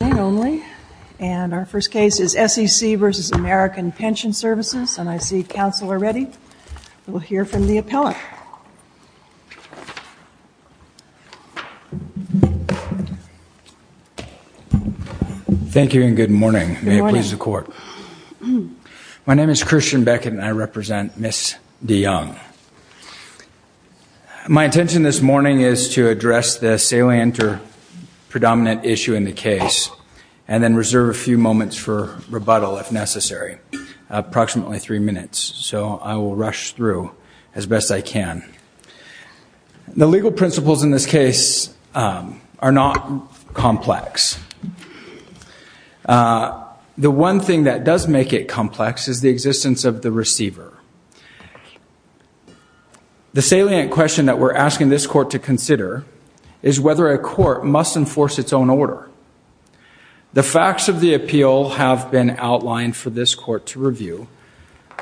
And our first case is SEC v. American Pension Services, and I see counsel are ready. We'll hear from the appellant. Thank you, and good morning. May it please the court. My name is Christian Beckett, and I represent Ms. DeYoung. My intention this morning is to address the salient or And then reserve a few moments for rebuttal if necessary. Approximately three minutes. So I will rush through as best I can. The legal principles in this case are not complex. The one thing that does make it complex is the existence of the receiver. The salient question that we're asking this court to consider is whether a court must enforce its own order. The facts of the appeal have been outlined for this court to review,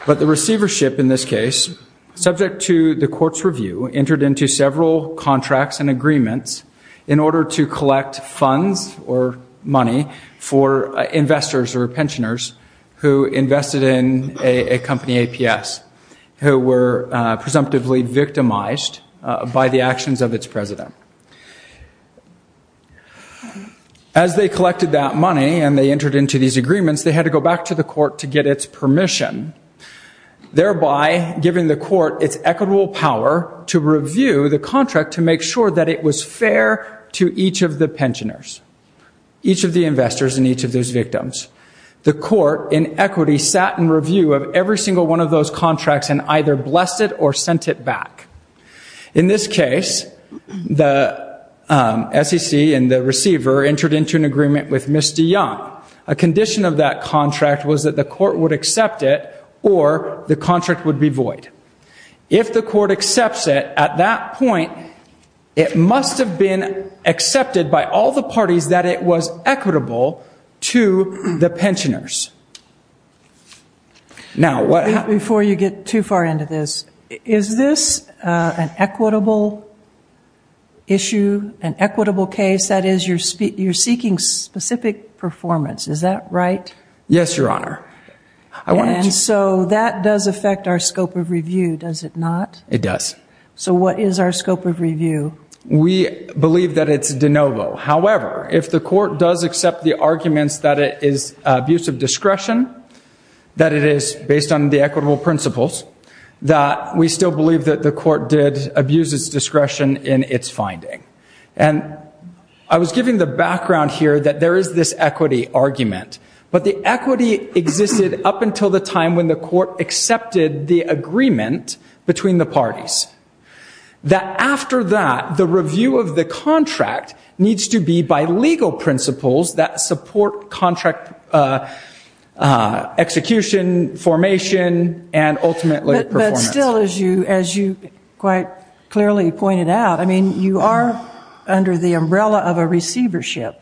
but the receivership in this case, subject to the court's review, entered into several contracts and agreements in order to collect funds or money for investors or pensioners who invested in a company, APS, who were presumptively victimized by the actions of its president. As they collected that money, and they entered into these agreements, they had to go back to the court to get its permission, thereby giving the court its equitable power to review the contract to make sure that it was fair to each of the pensioners, each of the investors, and each of those victims. The court, in equity, sat in review of every single one of those contracts and either blessed it or sent it back. In this case, the SEC and the receiver entered into an agreement with Ms. DeYoung. A condition of that contract was that the court would accept it or the contract would be void. If the court accepts it, at that point, it must have been accepted by all the parties that it was equitable to the pensioners. Now, what... Before you get too far into this, is this an equitable issue, an equitable case? That is, you're seeking specific performance. Is that right? Yes, Your Honor. And so that does affect our scope of review, does it not? It does. So what is our scope of review? We believe that it's de novo. However, if the court does accept the arguments that it is abuse of discretion, that it is based on the equitable principles, that we still believe that the court did abuse its discretion in its finding. And I was giving the background here that there is this equity argument, but the equity existed up until the time when the court accepted the agreement between the parties. That after that, the review of the contract needs to be by legal principles that support contract execution, formation, and ultimately performance. But still, as you quite clearly pointed out, I mean, you are under the umbrella of a receivership.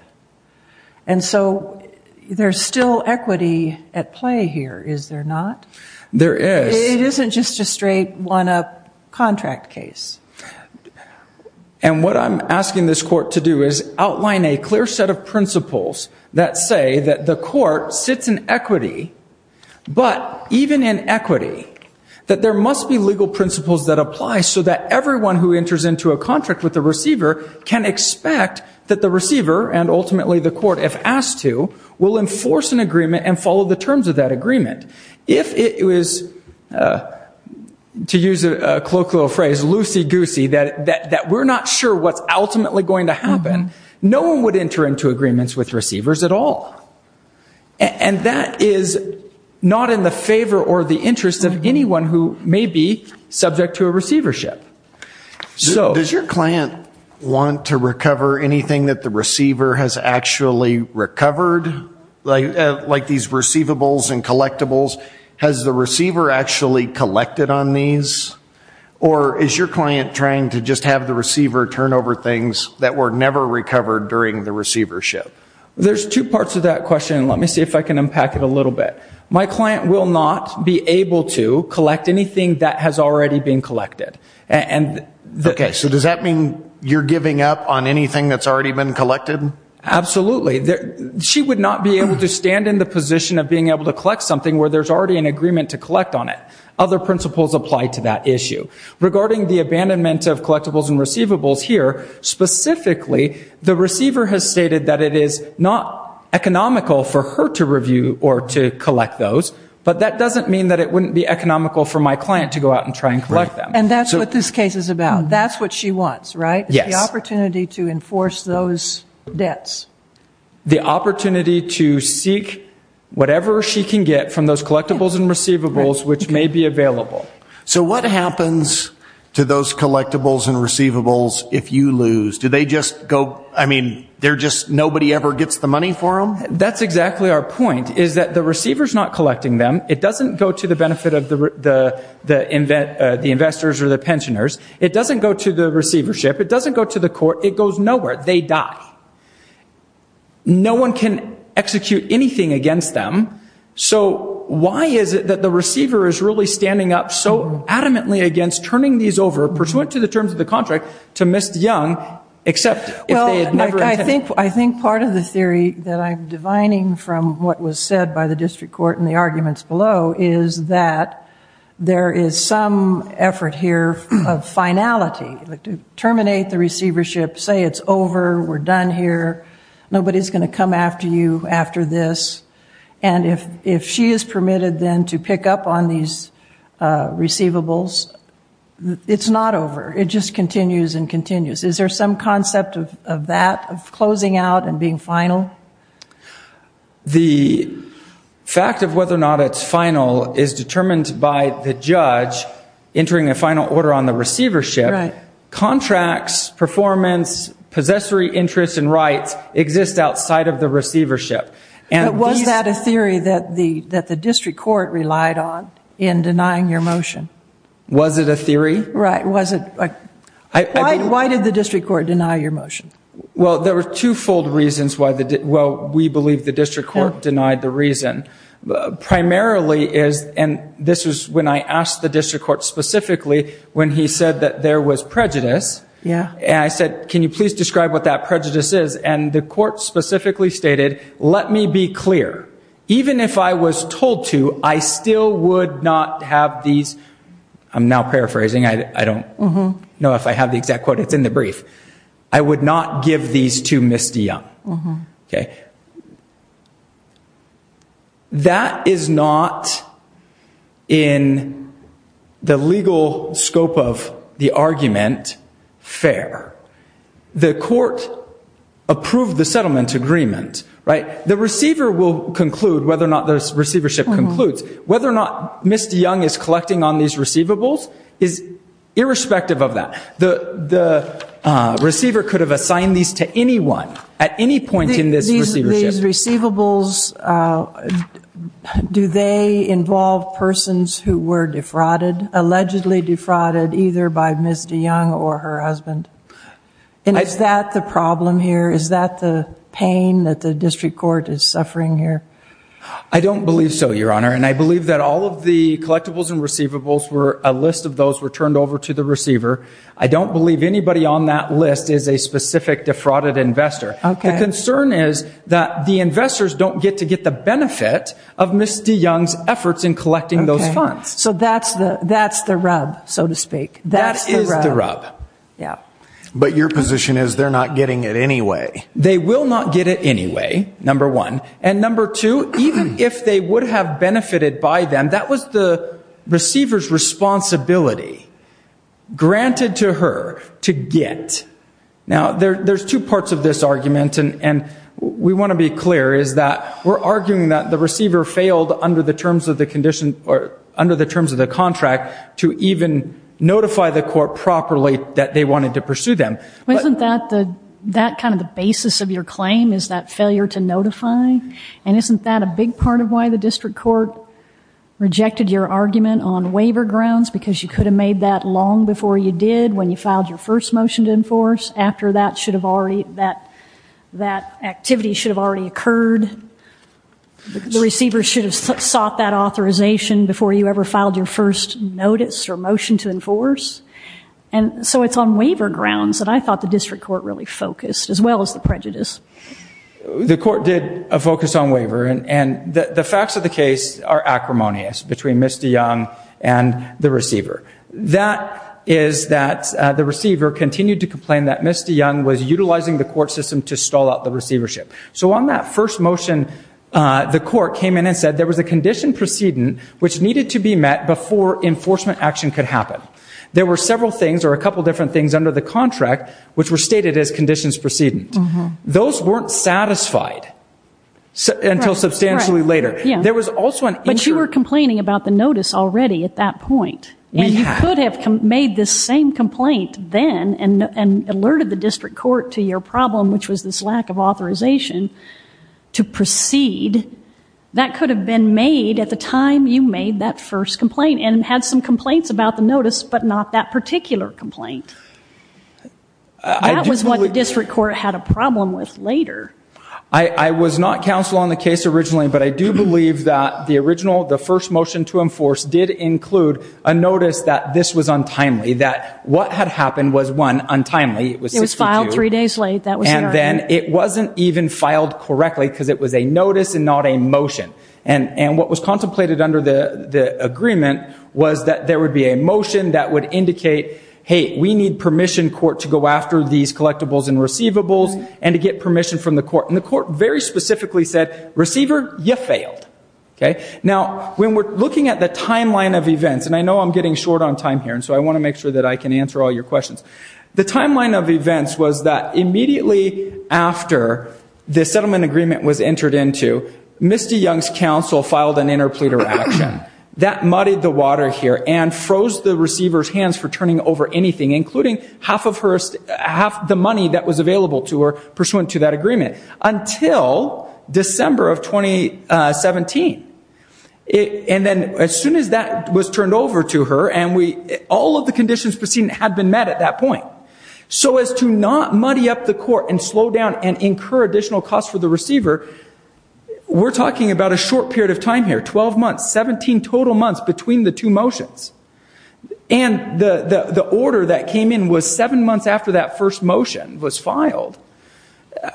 And so there's still equity at play here, is there not? There is. It isn't just a straight one-up contract case. And what I'm asking this court to do is outline a clear set of principles that say that the court sits in equity, but even in equity, that there must be legal principles that apply so that everyone who enters into a contract with the receiver can expect that the receiver, and ultimately the court if asked to, will enforce an agreement and follow the terms of that agreement. If it was, to use a colloquial phrase, loosey-goosey, that we're not sure what's ultimately going to happen, no one would enter into agreements with receivers at all. And that is not in the favor or the interest of anyone who may be subject to a receivership. So does your client want to recover anything that the receiver has actually recovered? Like these receivables and collectibles, has the receiver actually collected on these? Or is your client trying to just have the receiver turn over things that were never recovered during the receivership? There's two parts of that question, let me see if I can unpack it a little bit. My client will not be able to collect anything that has already been collected. Okay, so does that mean you're giving up on anything that's already been collected? Absolutely. She would not be able to stand in the position of being able to collect something where there's already an agreement to collect on it. Other principles apply to that issue. Regarding the abandonment of collectibles and receivables here, specifically, the receiver has stated that it is not economical for her to review or to collect those, but that doesn't mean that it wouldn't be economical for my client to go out and try and collect them. And that's what this case is about. That's what she wants, right? Yes. The opportunity to enforce those debts. The opportunity to seek whatever she can get from those collectibles and receivables which may be available. So what happens to those collectibles and receivables if you lose? Do they just go, I mean, they're just nobody ever gets the money for them? That's exactly our point, is that the receiver's not collecting them. It doesn't go to the benefit of the investors or the pensioners. It doesn't go to the receivership. It doesn't go to the court. It goes nowhere. They die. No one can execute anything against them. So why is it that the receiver is really standing up so adamantly against turning these over, pursuant to the terms of the contract, to Ms. Young, except if they had never intended? Well, I think part of the theory that I'm divining from what was said by the district court in the arguments below is that there is some effort here of finality, like to terminate the receivership, say it's over, we're done here, nobody's going to come after you after this, and if she is permitted then to pick up on these receivables, it's not over. It just continues and continues. Is there some concept of that, of closing out and being final? The fact of whether or not it's final is determined by the judge entering a final order on the receivership. Contracts, performance, possessory interests and rights exist outside of the receivership. And was that a theory that the that the district court relied on in denying your motion? Was it a theory? Right, was it? Why did the district court deny your motion? Well, there were twofold reasons why the, well, we believe the district court denied the reason. Primarily is, and this was when I asked the district court specifically, when he said that there was prejudice. Yeah, and I said, can you please describe what that prejudice is? And the court specifically stated, let me be clear, even if I was told to, I still would not have these, I'm now paraphrasing, I don't know if I have the exact quote, it's in the brief, I would not give these to Misty Young, okay? That is not in the legal scope of the argument, fair. The court approved the settlement agreement, right? The receiver will conclude, whether or not the receivership concludes, whether or not Misty Young is collecting on these receivables is irrespective of that. The receiver could have assigned these to anyone at any point in this receivership. These receivables, do they involve persons who were defrauded, allegedly defrauded, either by Misty Young or her husband? And is that the problem here? Is that the pain that the district court is suffering here? I don't believe so, your honor, and I believe that all of the collectibles and receivables were, a list of those were turned over to the receiver. I don't believe anybody on that list is a specific defrauded investor. Okay. The concern is that the investors don't get to get the benefit of Misty Young's efforts in collecting those funds. So that's the, that's the rub, so to speak. That is the rub. Yeah, but your position is they're not getting it anyway. They will not get it anyway, number one. And number two, even if they would have benefited by them, that was the receiver's responsibility granted to her to get. Now there's two parts of this argument, and we want to be clear, is that we're arguing that the receiver failed under the terms of the condition, or under the terms of the contract, to even notify the court properly that they wanted to pursue them. Isn't that the, that kind of the basis of your claim, is that failure to notify? And isn't that a big part of why the district court rejected your argument on waiver grounds? Because you could have made that long before you did, when you filed your first motion to enforce, after that should have already, that, that activity should have already occurred. The receiver should have sought that authorization before you ever filed your first notice or motion to enforce. And so it's on waiver grounds that I thought the district court really focused, as well as the prejudice. The court did a focus on waiver, and the facts of the case are acrimonious between Misty Young and the receiver. That is that the receiver continued to complain that Misty Young was utilizing the court system to stall out the receivership. So on that first motion, the court came in and said there was a condition precedent which needed to be met before enforcement action could happen. There were several things, or a couple different things, under the contract which were stated as conditions precedent. Those weren't satisfied until substantially later. Yeah. There was also an issue. But you were complaining about the notice already at that point. And you could have made this same complaint then, and alerted the district court to your problem, which was this lack of authorization to proceed. That could have been made at the time you made that first complaint, and had some complaints about the notice, but not that particular complaint. That was what the district court had a problem with later. I was not counsel on the case originally, but I do believe that the original, the first motion to enforce, did include a notice that this was untimely. That what had happened was one, untimely. It was filed three days late. And then it wasn't even filed correctly because it was a notice and not a motion. And what was contemplated under the agreement was that there would be a motion that would indicate, hey, we need permission court to go after these collectibles and receivables, and to get permission from the court. And the court very you failed. Okay? Now, when we're looking at the timeline of events, and I know I'm getting short on time here, and so I want to make sure that I can answer all your questions. The timeline of events was that immediately after the settlement agreement was entered into, Misty Young's counsel filed an interpleader action that muddied the water here, and froze the receiver's hands for turning over anything, including half of her, half the money that was available to her pursuant to that agreement, until December of 2017. And then as soon as that was turned over to her, and we, all of the conditions proceeded had been met at that point. So as to not muddy up the court, and slow down, and incur additional costs for the receiver, we're talking about a short period of time here, 12 months, 17 total months between the two motions. And the the order that came in was seven months after that first motion was filed.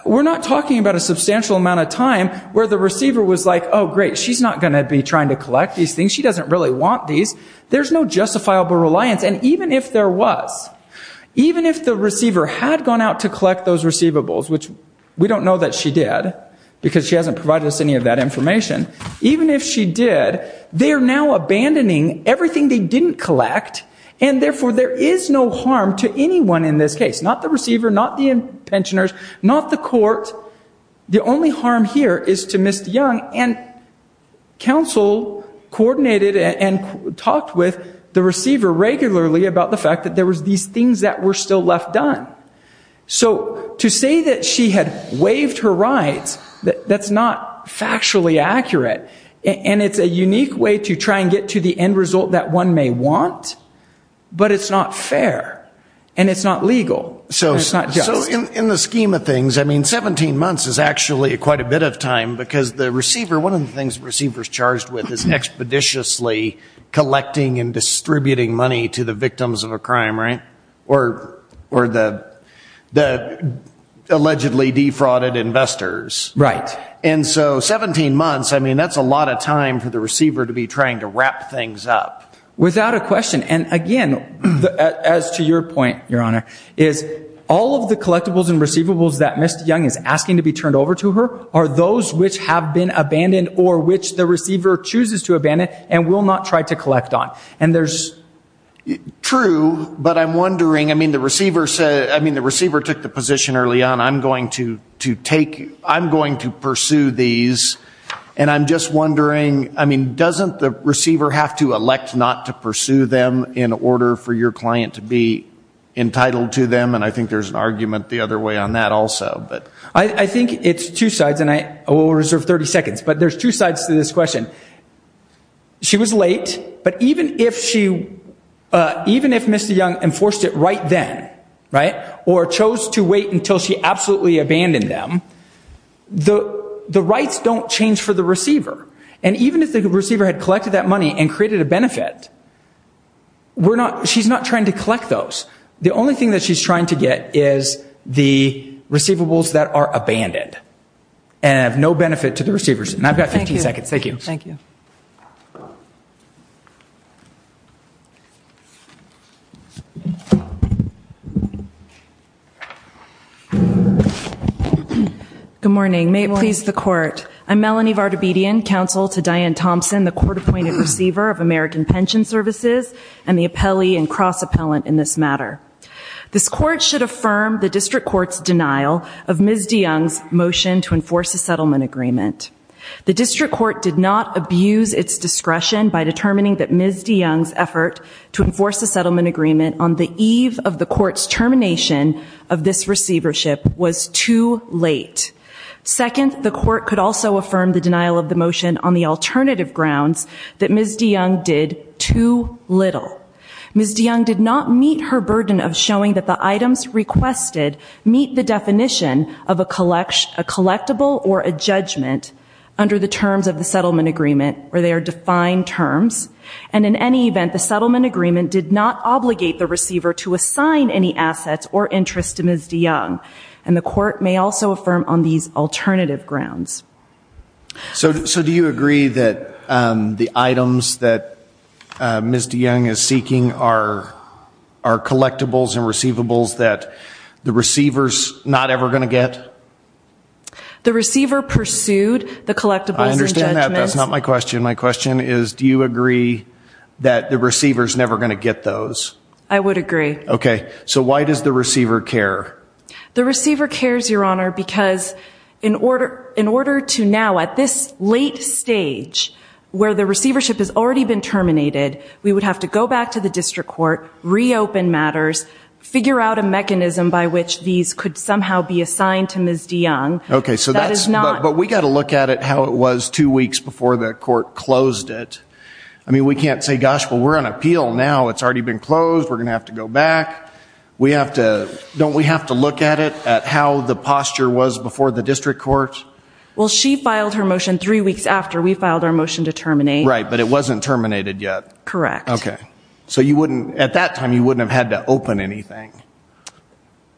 We're not talking about a substantial amount of time where the receiver was like, oh great, she's not going to be trying to collect these things. She doesn't really want these. There's no justifiable reliance, and even if there was, even if the receiver had gone out to collect those receivables, which we don't know that she did, because she hasn't provided us any of that information, even if she did, they are now abandoning everything they didn't collect, and therefore there is no harm to anyone in this case. Not the receiver, not the pensioners, not the court. The only harm here is to Ms. DeYoung, and counsel coordinated and talked with the receiver regularly about the fact that there was these things that were still left done. So to say that she had waived her rights, that's not the end result that one may want, but it's not fair, and it's not legal. So in the scheme of things, I mean, 17 months is actually quite a bit of time because the receiver, one of the things receivers charged with is expeditiously collecting and distributing money to the victims of a crime, right? Or the allegedly defrauded investors. Right. And so 17 months, I mean, that's a lot of time for the receiver to be trying to wrap things up. Without a question, and again, as to your point, Your Honor, is all of the collectibles and receivables that Ms. DeYoung is asking to be turned over to her are those which have been abandoned or which the receiver chooses to abandon and will not try to collect on. And there's... True, but I'm wondering, I mean, the receiver said, I mean, the receiver took the position early on, I'm going to pursue these, and I'm just wondering, I mean, doesn't the receiver have to elect not to pursue them in order for your client to be entitled to them? And I think there's an argument the other way on that also, but... I think it's two sides, and I will reserve 30 seconds, but there's two sides to this question. She was late, but even if she, enforced it right then, right, or chose to wait until she absolutely abandoned them, the rights don't change for the receiver. And even if the receiver had collected that money and created a benefit, we're not, she's not trying to collect those. The only thing that she's trying to get is the receivables that are abandoned and have no benefit to the receivers. And I've got 15 seconds. Thank you. Thank you. Good morning. May it please the court. I'm Melanie Vardabedian, counsel to Diane Thompson, the court-appointed receiver of American Pension Services, and the appellee and cross-appellant in this matter. This court should affirm the district court's denial of Ms. DeYoung's motion to enforce a settlement agreement. The district court did not abuse its discretion by determining that Ms. DeYoung's effort to enforce a settlement agreement on the eve of the court's termination of this receivership was too late. Second, the court could also affirm the denial of the motion on the alternative grounds that Ms. DeYoung did too little. Ms. DeYoung did not meet her burden of showing that the items requested meet the definition of a collection, a settlement agreement. In any event, the settlement agreement did not obligate the receiver to assign any assets or interest to Ms. DeYoung. And the court may also affirm on these alternative grounds. So do you agree that the items that Ms. DeYoung is seeking are are collectibles and receivables that the receivers not ever going to get? The receiver pursued the collectibles and judgments. I understand that. That's not my question. My question is, do you agree that the receivers never going to get those? I would agree. Okay, so why does the receiver care? The receiver cares, your honor, because in order in order to now at this late stage where the receivership has already been terminated, we would have to go back to the district court, reopen matters, figure out a mechanism by which these could somehow be assigned to Ms. DeYoung. Okay, so that is not. But we got to look at it how it was two weeks before the court closed it. I mean, we can't say, gosh, well, we're on appeal now. It's already been closed. We're gonna have to go back. We have to, don't we have to look at it at how the posture was before the district court? Well, she filed her motion three weeks after we filed our motion to terminate. Right, but it wasn't terminated yet. Correct. Okay, so you wouldn't, at that time, you wouldn't have had to open anything.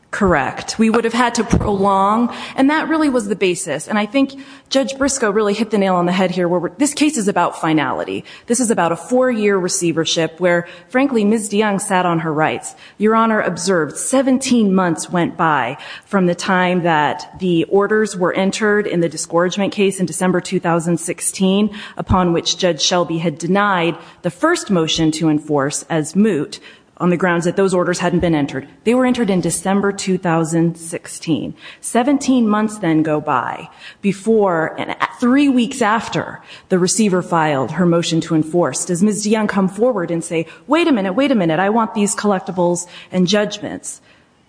Correct. We would have had to prolong and that really was the basis. And I think Judge Briscoe really hit the nail on the head here where this case is about finality. This is about a four-year receivership where frankly Ms. DeYoung sat on her rights. Your honor observed 17 months went by from the time that the orders were entered in the discouragement case in December 2016 upon which Judge Shelby had denied the first motion to enforce as moot on the grounds that those orders hadn't been entered. They were entered in December 2016. 17 months then go by before and three weeks after the receiver filed her motion to enforce. Does Ms. DeYoung come forward and say wait a minute, wait a minute. I want these collectibles and judgments.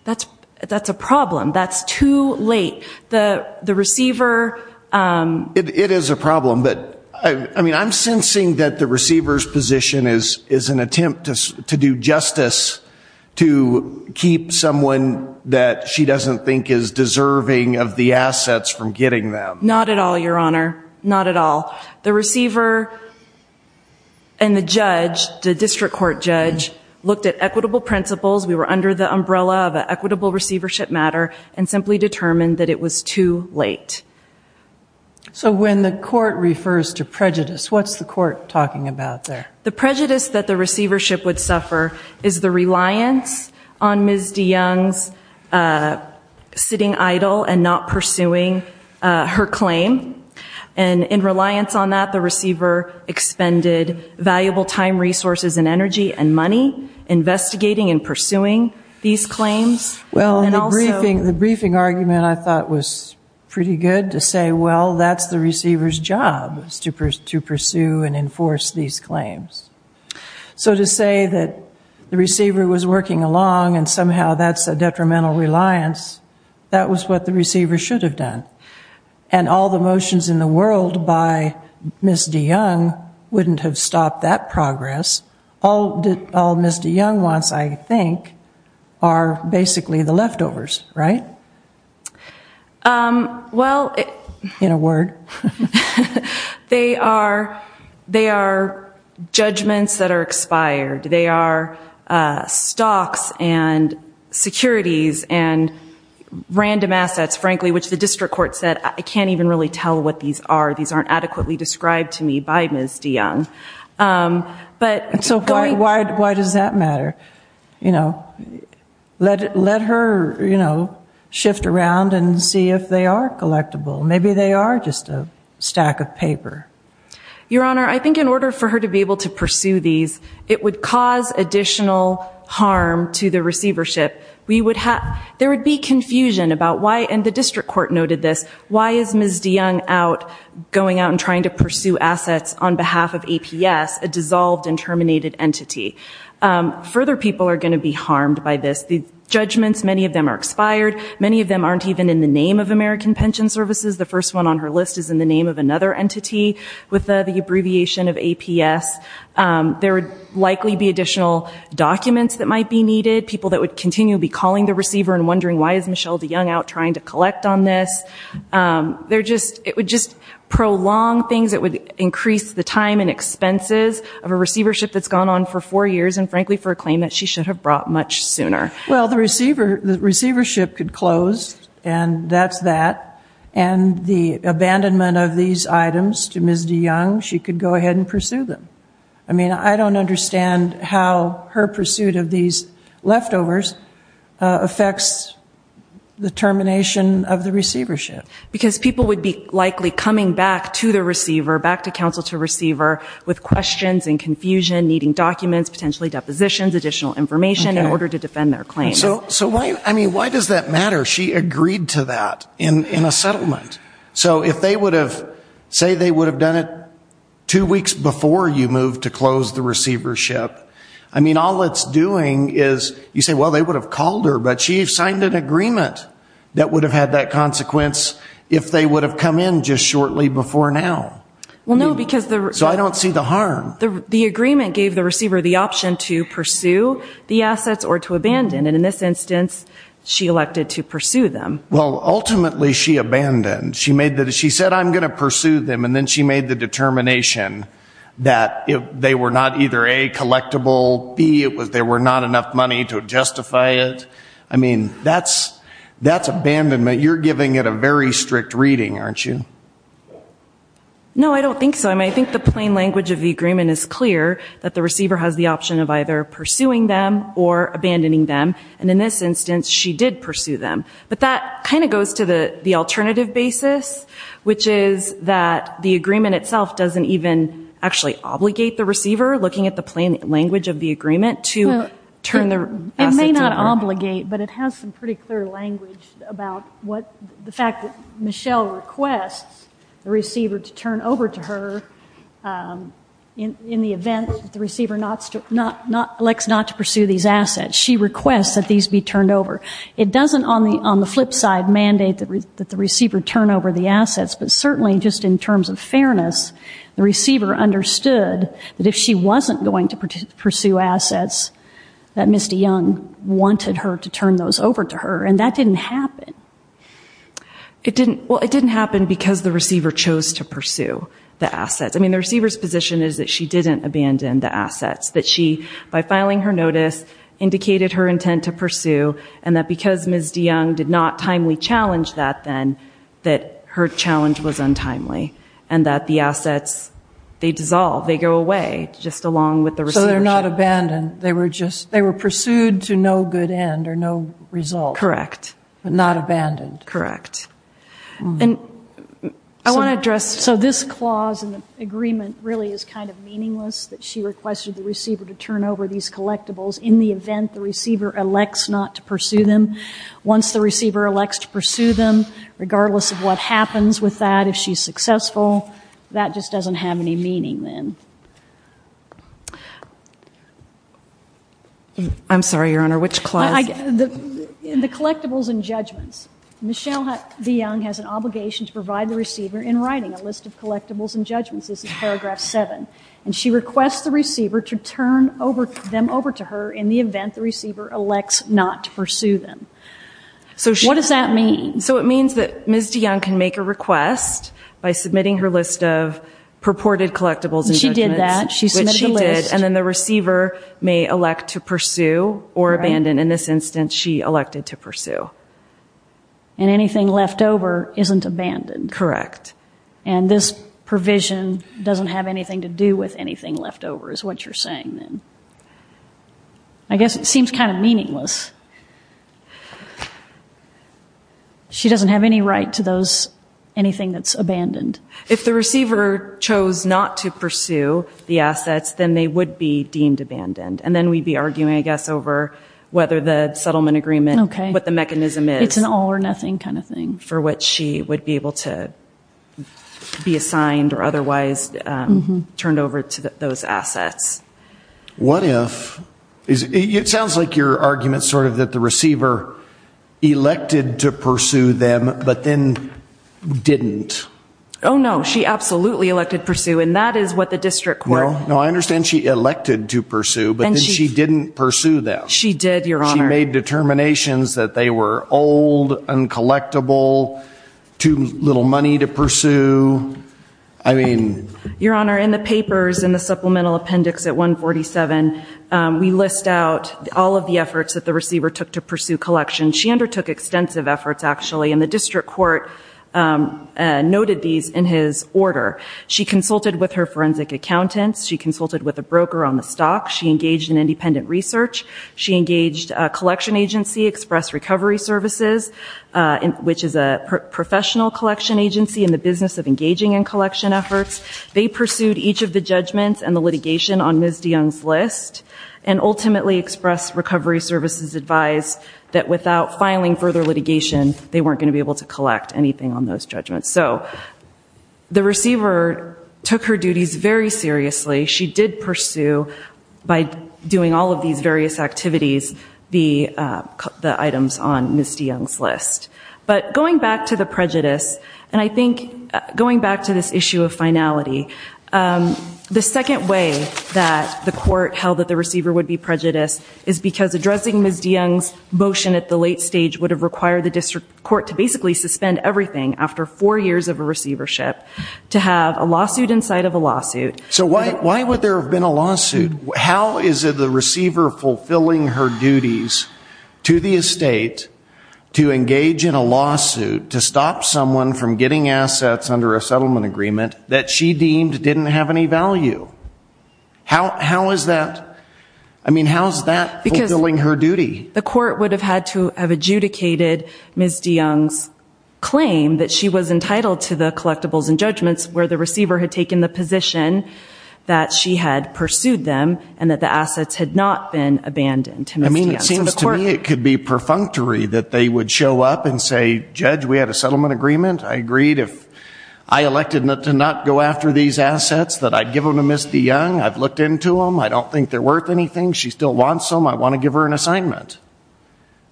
That's, that's a problem. That's too late. The, the receiver, It is a problem, but I mean I'm sensing that the receivers position is, is an attempt to do justice to keep someone that she doesn't think is deserving of the assets from getting them. Not at all, your honor. Not at all. The receiver and the judge, the district court judge, looked at equitable principles. We were under the umbrella of an equitable receivership matter and simply determined that it was too late. So when the court refers to prejudice, what's the court talking about there? The prejudice that the receivership would suffer is the reliance on Ms. DeYoung's sitting idle and not pursuing her claim and in reliance on that the receiver expended valuable time, resources, and energy and money investigating and pursuing these claims. Well, the briefing, the briefing argument I thought was pretty good to say well, that's the receivers job is to pursue and enforce these claims. So to say that the receiver was working along and somehow that's a detrimental reliance, that was what the receiver should have done and all the motions in the world by Ms. DeYoung wouldn't have stopped that progress. All, all Ms. DeYoung wants, I think, are basically the leftovers, right? Well, in a word, they are, they are judgments that are expired. They are stocks and securities and random assets, frankly, which the district court said I can't even really tell what these are. These aren't adequately described to me by Ms. DeYoung. But, so why, why, why does that matter? You know, let, let her, you know, shift around and see if they are collectible. Maybe they are just a stack of paper. Your Honor, I think in order for her to be able to pursue these, it would cause additional harm to the receivership. We would have, there would be confusion about why, and the district court noted this, why is Ms. DeYoung out, going out and trying to pursue assets on behalf of APS, a dissolved and terminated entity? Further people are going to be harmed by this. The judgments, many of them are expired. Many of them aren't even in the name of American Pension Services. The first one on her list is in the name of another entity with the abbreviation of APS. There would likely be additional documents that might be needed, people that would continue to be calling the receiver and wondering why is Ms. DeYoung out trying to collect on this. They're just, it would just prolong things. It would increase the time and expenses of a receivership that's gone on for four years and frankly for a claim that she should have brought much sooner. Well, the receiver, the receivership could close and that's that, and the abandonment of these items to Ms. DeYoung, she could go ahead and pursue them. I mean, I don't understand how her pursuit of these leftovers affects the termination of the receivership. Because people would be likely coming back to the receiver, back to counsel to receiver, with questions and confusion, needing documents, potentially depositions, additional information in order to defend their claim. So, so why, I mean, why does that matter? She agreed to that in a settlement. So if they would have, say they would have done it two weeks before you moved to close the receivership, I mean all it's doing is you say, well they would have called her, but she signed an agreement that would have had that consequence if they would have come in just shortly before now. Well, no, because the... So I don't see the harm. The agreement gave the receiver the option to pursue the assets or to abandon, and in this instance she elected to pursue them. Well, ultimately she abandoned. She made that, she said I'm gonna pursue them, and then she made the determination that if they were not either A, collectible, B, it was there were not enough money to justify it. I mean, that's, that's abandonment. You're giving it a very strict reading, aren't you? No, I don't think so. I mean, I think the plain language of the agreement is clear that the receiver has the option of either pursuing them or abandoning them, and in this instance she did pursue them. But that kind of goes to the, the alternative basis, which is that the agreement itself doesn't even actually obligate the receiver, looking at the plain language of the agreement, to turn their... It may not obligate, but it has some pretty clear language about what, the fact that Michelle requests the receiver to turn over to her in the event that the receiver not, not, not, elects not to pursue these assets. She requests that these be turned over. It doesn't on the, on the flip side mandate that the receiver turn over the assets, but certainly just in terms of fairness, the receiver understood that if she wasn't going to pursue assets that Misty Young wanted her to turn those over to her, and that didn't happen. It didn't, well, it didn't happen because the receiver chose to pursue the assets. I mean, the receiver's position is that she didn't abandon the assets, that she, by filing her notice, indicated her intent to pursue, and that because Ms. DeYoung did not timely challenge that then, that her challenge was untimely, and that the assets, they dissolve, they go away, just along with the... So they're not abandoned. They were just, they were pursued to no good end or no result. Correct. But not abandoned. Correct. And I want to address, so this clause in the agreement really is kind of meaningless, that she requested the receiver to turn over these collectibles in the event the receiver elects not to pursue them. Once the receiver elects to pursue them, regardless of what happens with that, if she's successful, that just doesn't have any meaning then. I'm sorry, Your Honor, which clause? The collectibles and judgments. Michelle DeYoung has an obligation to provide the receiver in writing a list of collectibles and judgments. This is paragraph 7, and she requests the receiver to turn over them over to her in the event the receiver elects not to pursue them. So what does that mean? So it means that Ms. DeYoung can make a request by submitting her list of collectibles, and then she may elect to pursue or abandon. In this instance, she elected to pursue. And anything left over isn't abandoned. Correct. And this provision doesn't have anything to do with anything left over, is what you're saying then. I guess it seems kind of meaningless. She doesn't have any right to those, anything that's abandoned. If the receiver chose not to pursue the assets, then they would be deemed abandoned. And then we'd be arguing, I guess, over whether the settlement agreement, what the mechanism is. It's an all-or-nothing kind of thing. For which she would be able to be assigned or otherwise turned over to those assets. What if? It sounds like your argument's sort of that the receiver elected to pursue them, but then didn't. Oh, no. She absolutely elected pursue, and that is what the district court... No, I understand she elected to pursue, but then she didn't pursue them. She did, Your Honor. She made determinations that they were old, uncollectible, too little money to pursue. I mean... Your Honor, in the papers, in the supplemental appendix at 147, we list out all of the efforts that the receiver took to pursue collections. She undertook extensive efforts, actually, and the district court noted these in his order. She consulted with her forensic accountants. She consulted with a broker on the stock. She engaged in independent research. She engaged a collection agency, Express Recovery Services, which is a professional collection agency in the business of engaging in collection efforts. They pursued each of the judgments and the litigation on Ms. DeYoung's list, and so the receiver took her duties very seriously. She did pursue, by doing all of these various activities, the items on Ms. DeYoung's list. But going back to the prejudice, and I think going back to this issue of finality, the second way that the court held that the receiver would be prejudiced is because addressing Ms. DeYoung's motion at the late stage would have required the district court to basically suspend everything after four years of a receivership to have a lawsuit inside of a lawsuit. So why would there have been a lawsuit? How is it the receiver fulfilling her duties to the estate to engage in a lawsuit to stop someone from getting assets under a settlement agreement that she deemed didn't have any value? How is that? I mean, how's that fulfilling her duty? The court would have had to have adjudicated Ms. DeYoung's claim that she was entitled to the collectibles and judgments where the receiver had taken the position that she had pursued them and that the assets had not been abandoned. I mean, it seems to me it could be perfunctory that they would show up and say, Judge, we had a settlement agreement. I agreed if I elected not to not go after these assets that I'd give them to Ms. DeYoung. I've looked into them. I don't think they're worth anything. She still wants them. I want to give her an assignment.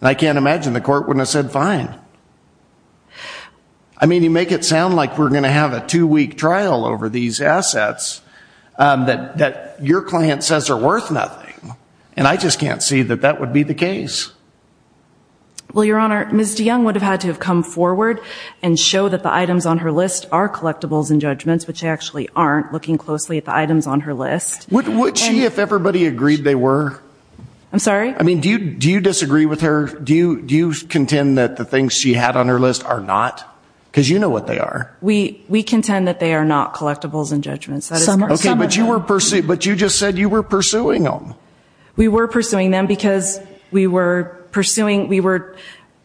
And I can't imagine the court wouldn't have said fine. I mean, you make it sound like we're gonna have a two-week trial over these assets that your client says are worth nothing, and I just can't see that that would be the case. Well, Your Honor, Ms. DeYoung would have had to have come forward and show that the items on her list are collectibles and judgments, but she actually aren't looking closely at the items on her list. Would she if everybody agreed they were? I'm sorry? I mean, do you disagree with her? Do you contend that the things she had on her list are not? Because you know what they are. We contend that they are not collectibles and judgments. Okay, but you just said you were pursuing them. We were pursuing them because we were pursuing, we were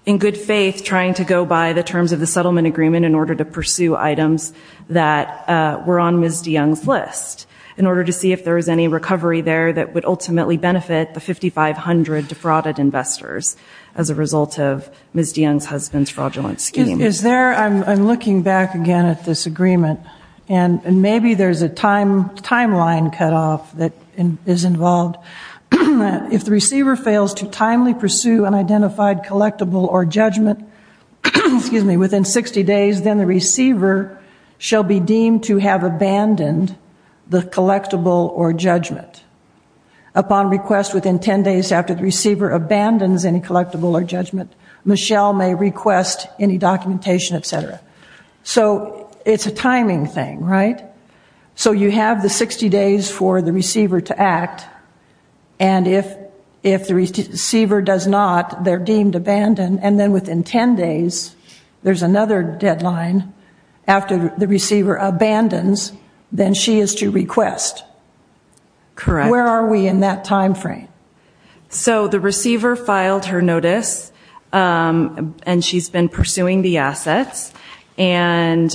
in good faith trying to go by the terms of the settlement agreement in order to pursue items that were on Ms. DeYoung's list in order to see if there was any recovery there that would ultimately benefit the 5,500 defrauded investors as a result of Ms. DeYoung's husband's fraudulent scheme. Is there, I'm looking back again at this agreement, and maybe there's a time timeline cut off that is involved. If the receiver fails to timely pursue an identified collectible or judgment, excuse me, within 60 days, then the receiver shall be deemed to have abandoned the collectible or judgment. Upon request within 10 days after the receiver abandons any collectible or judgment, Michelle may request any documentation, etc. So it's a timing thing, right? So you have the 60 days for the receiver to act, and if the receiver does not, they're deemed abandoned, and then within 10 days, there's another deadline after the receiver abandons, then she is to request. Correct. Where are we in that time frame? So the receiver filed her notice, and she's been pursuing the assets, and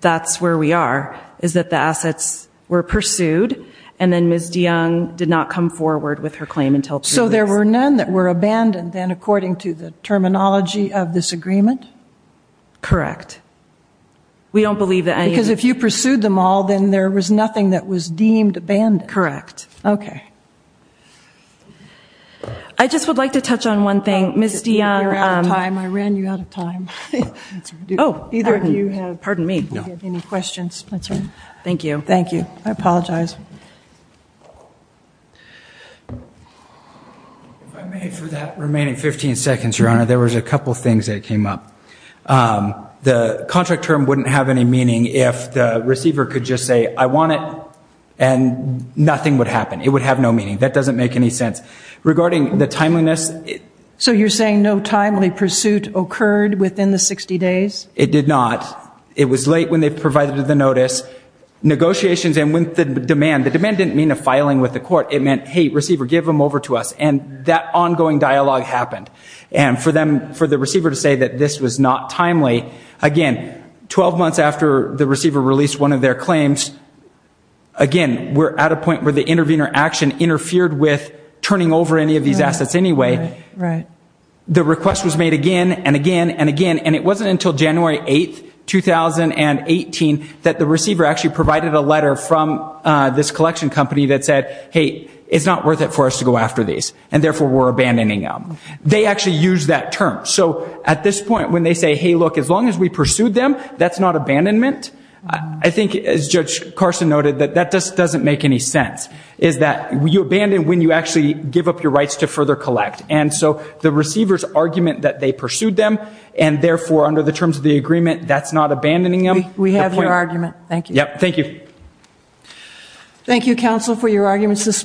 that's where we are, is that the assets were pursued, and then Ms. DeYoung did not come forward with her claim until... So there were none that were abandoned, then, according to the terminology of this agreement? Correct. We don't believe that any... Because if you pursued them all, then there was nothing that was deemed abandoned. Correct. Okay. I just would like to touch on one thing. Ms. DeYoung... You're out of time. I ran you out of time. Oh, either of you have... Pardon me. You have any questions? That's all right. Thank you. Thank you. I apologize. If I may, for that remaining 15 seconds, Your Honor, there was a couple things that came up. The contract term wouldn't have any meaning if the receiver could just say, I want it, and nothing would happen. It would have no meaning. That doesn't make any sense. Regarding the timeliness... So you're saying no timely pursuit occurred within the 60 days? It did not. It was late when they provided the notice. Negotiations, and with the demand... The demand didn't mean a filing with the court. It meant, hey, receiver, give them over to us, and that ongoing dialogue happened. And for them, for the receiver to say that this was not timely, again, 12 months after the receiver released one of their claims, again, we're at a point where the intervener action interfered with turning over any of these assets anyway. The request was made again, and again, and again, and it wasn't until January 8th, 2018, that the receiver actually provided a letter from this collection company that said, hey, it's not worth it for us to go after these, and therefore we're abandoning them. They actually used that term. So at this point, when they say, hey, look, as long as we pursued them, that's not abandonment. I think, as Judge Carson noted, that that just doesn't make any sense, is that you abandon when you actually give up your rights to further collect. And so the receivers argument that they pursued them, and therefore under the terms of the agreement, that's not abandoning them. We have your argument. Thank you. Yep. Thank you. Thank you, counsel, for your arguments this morning.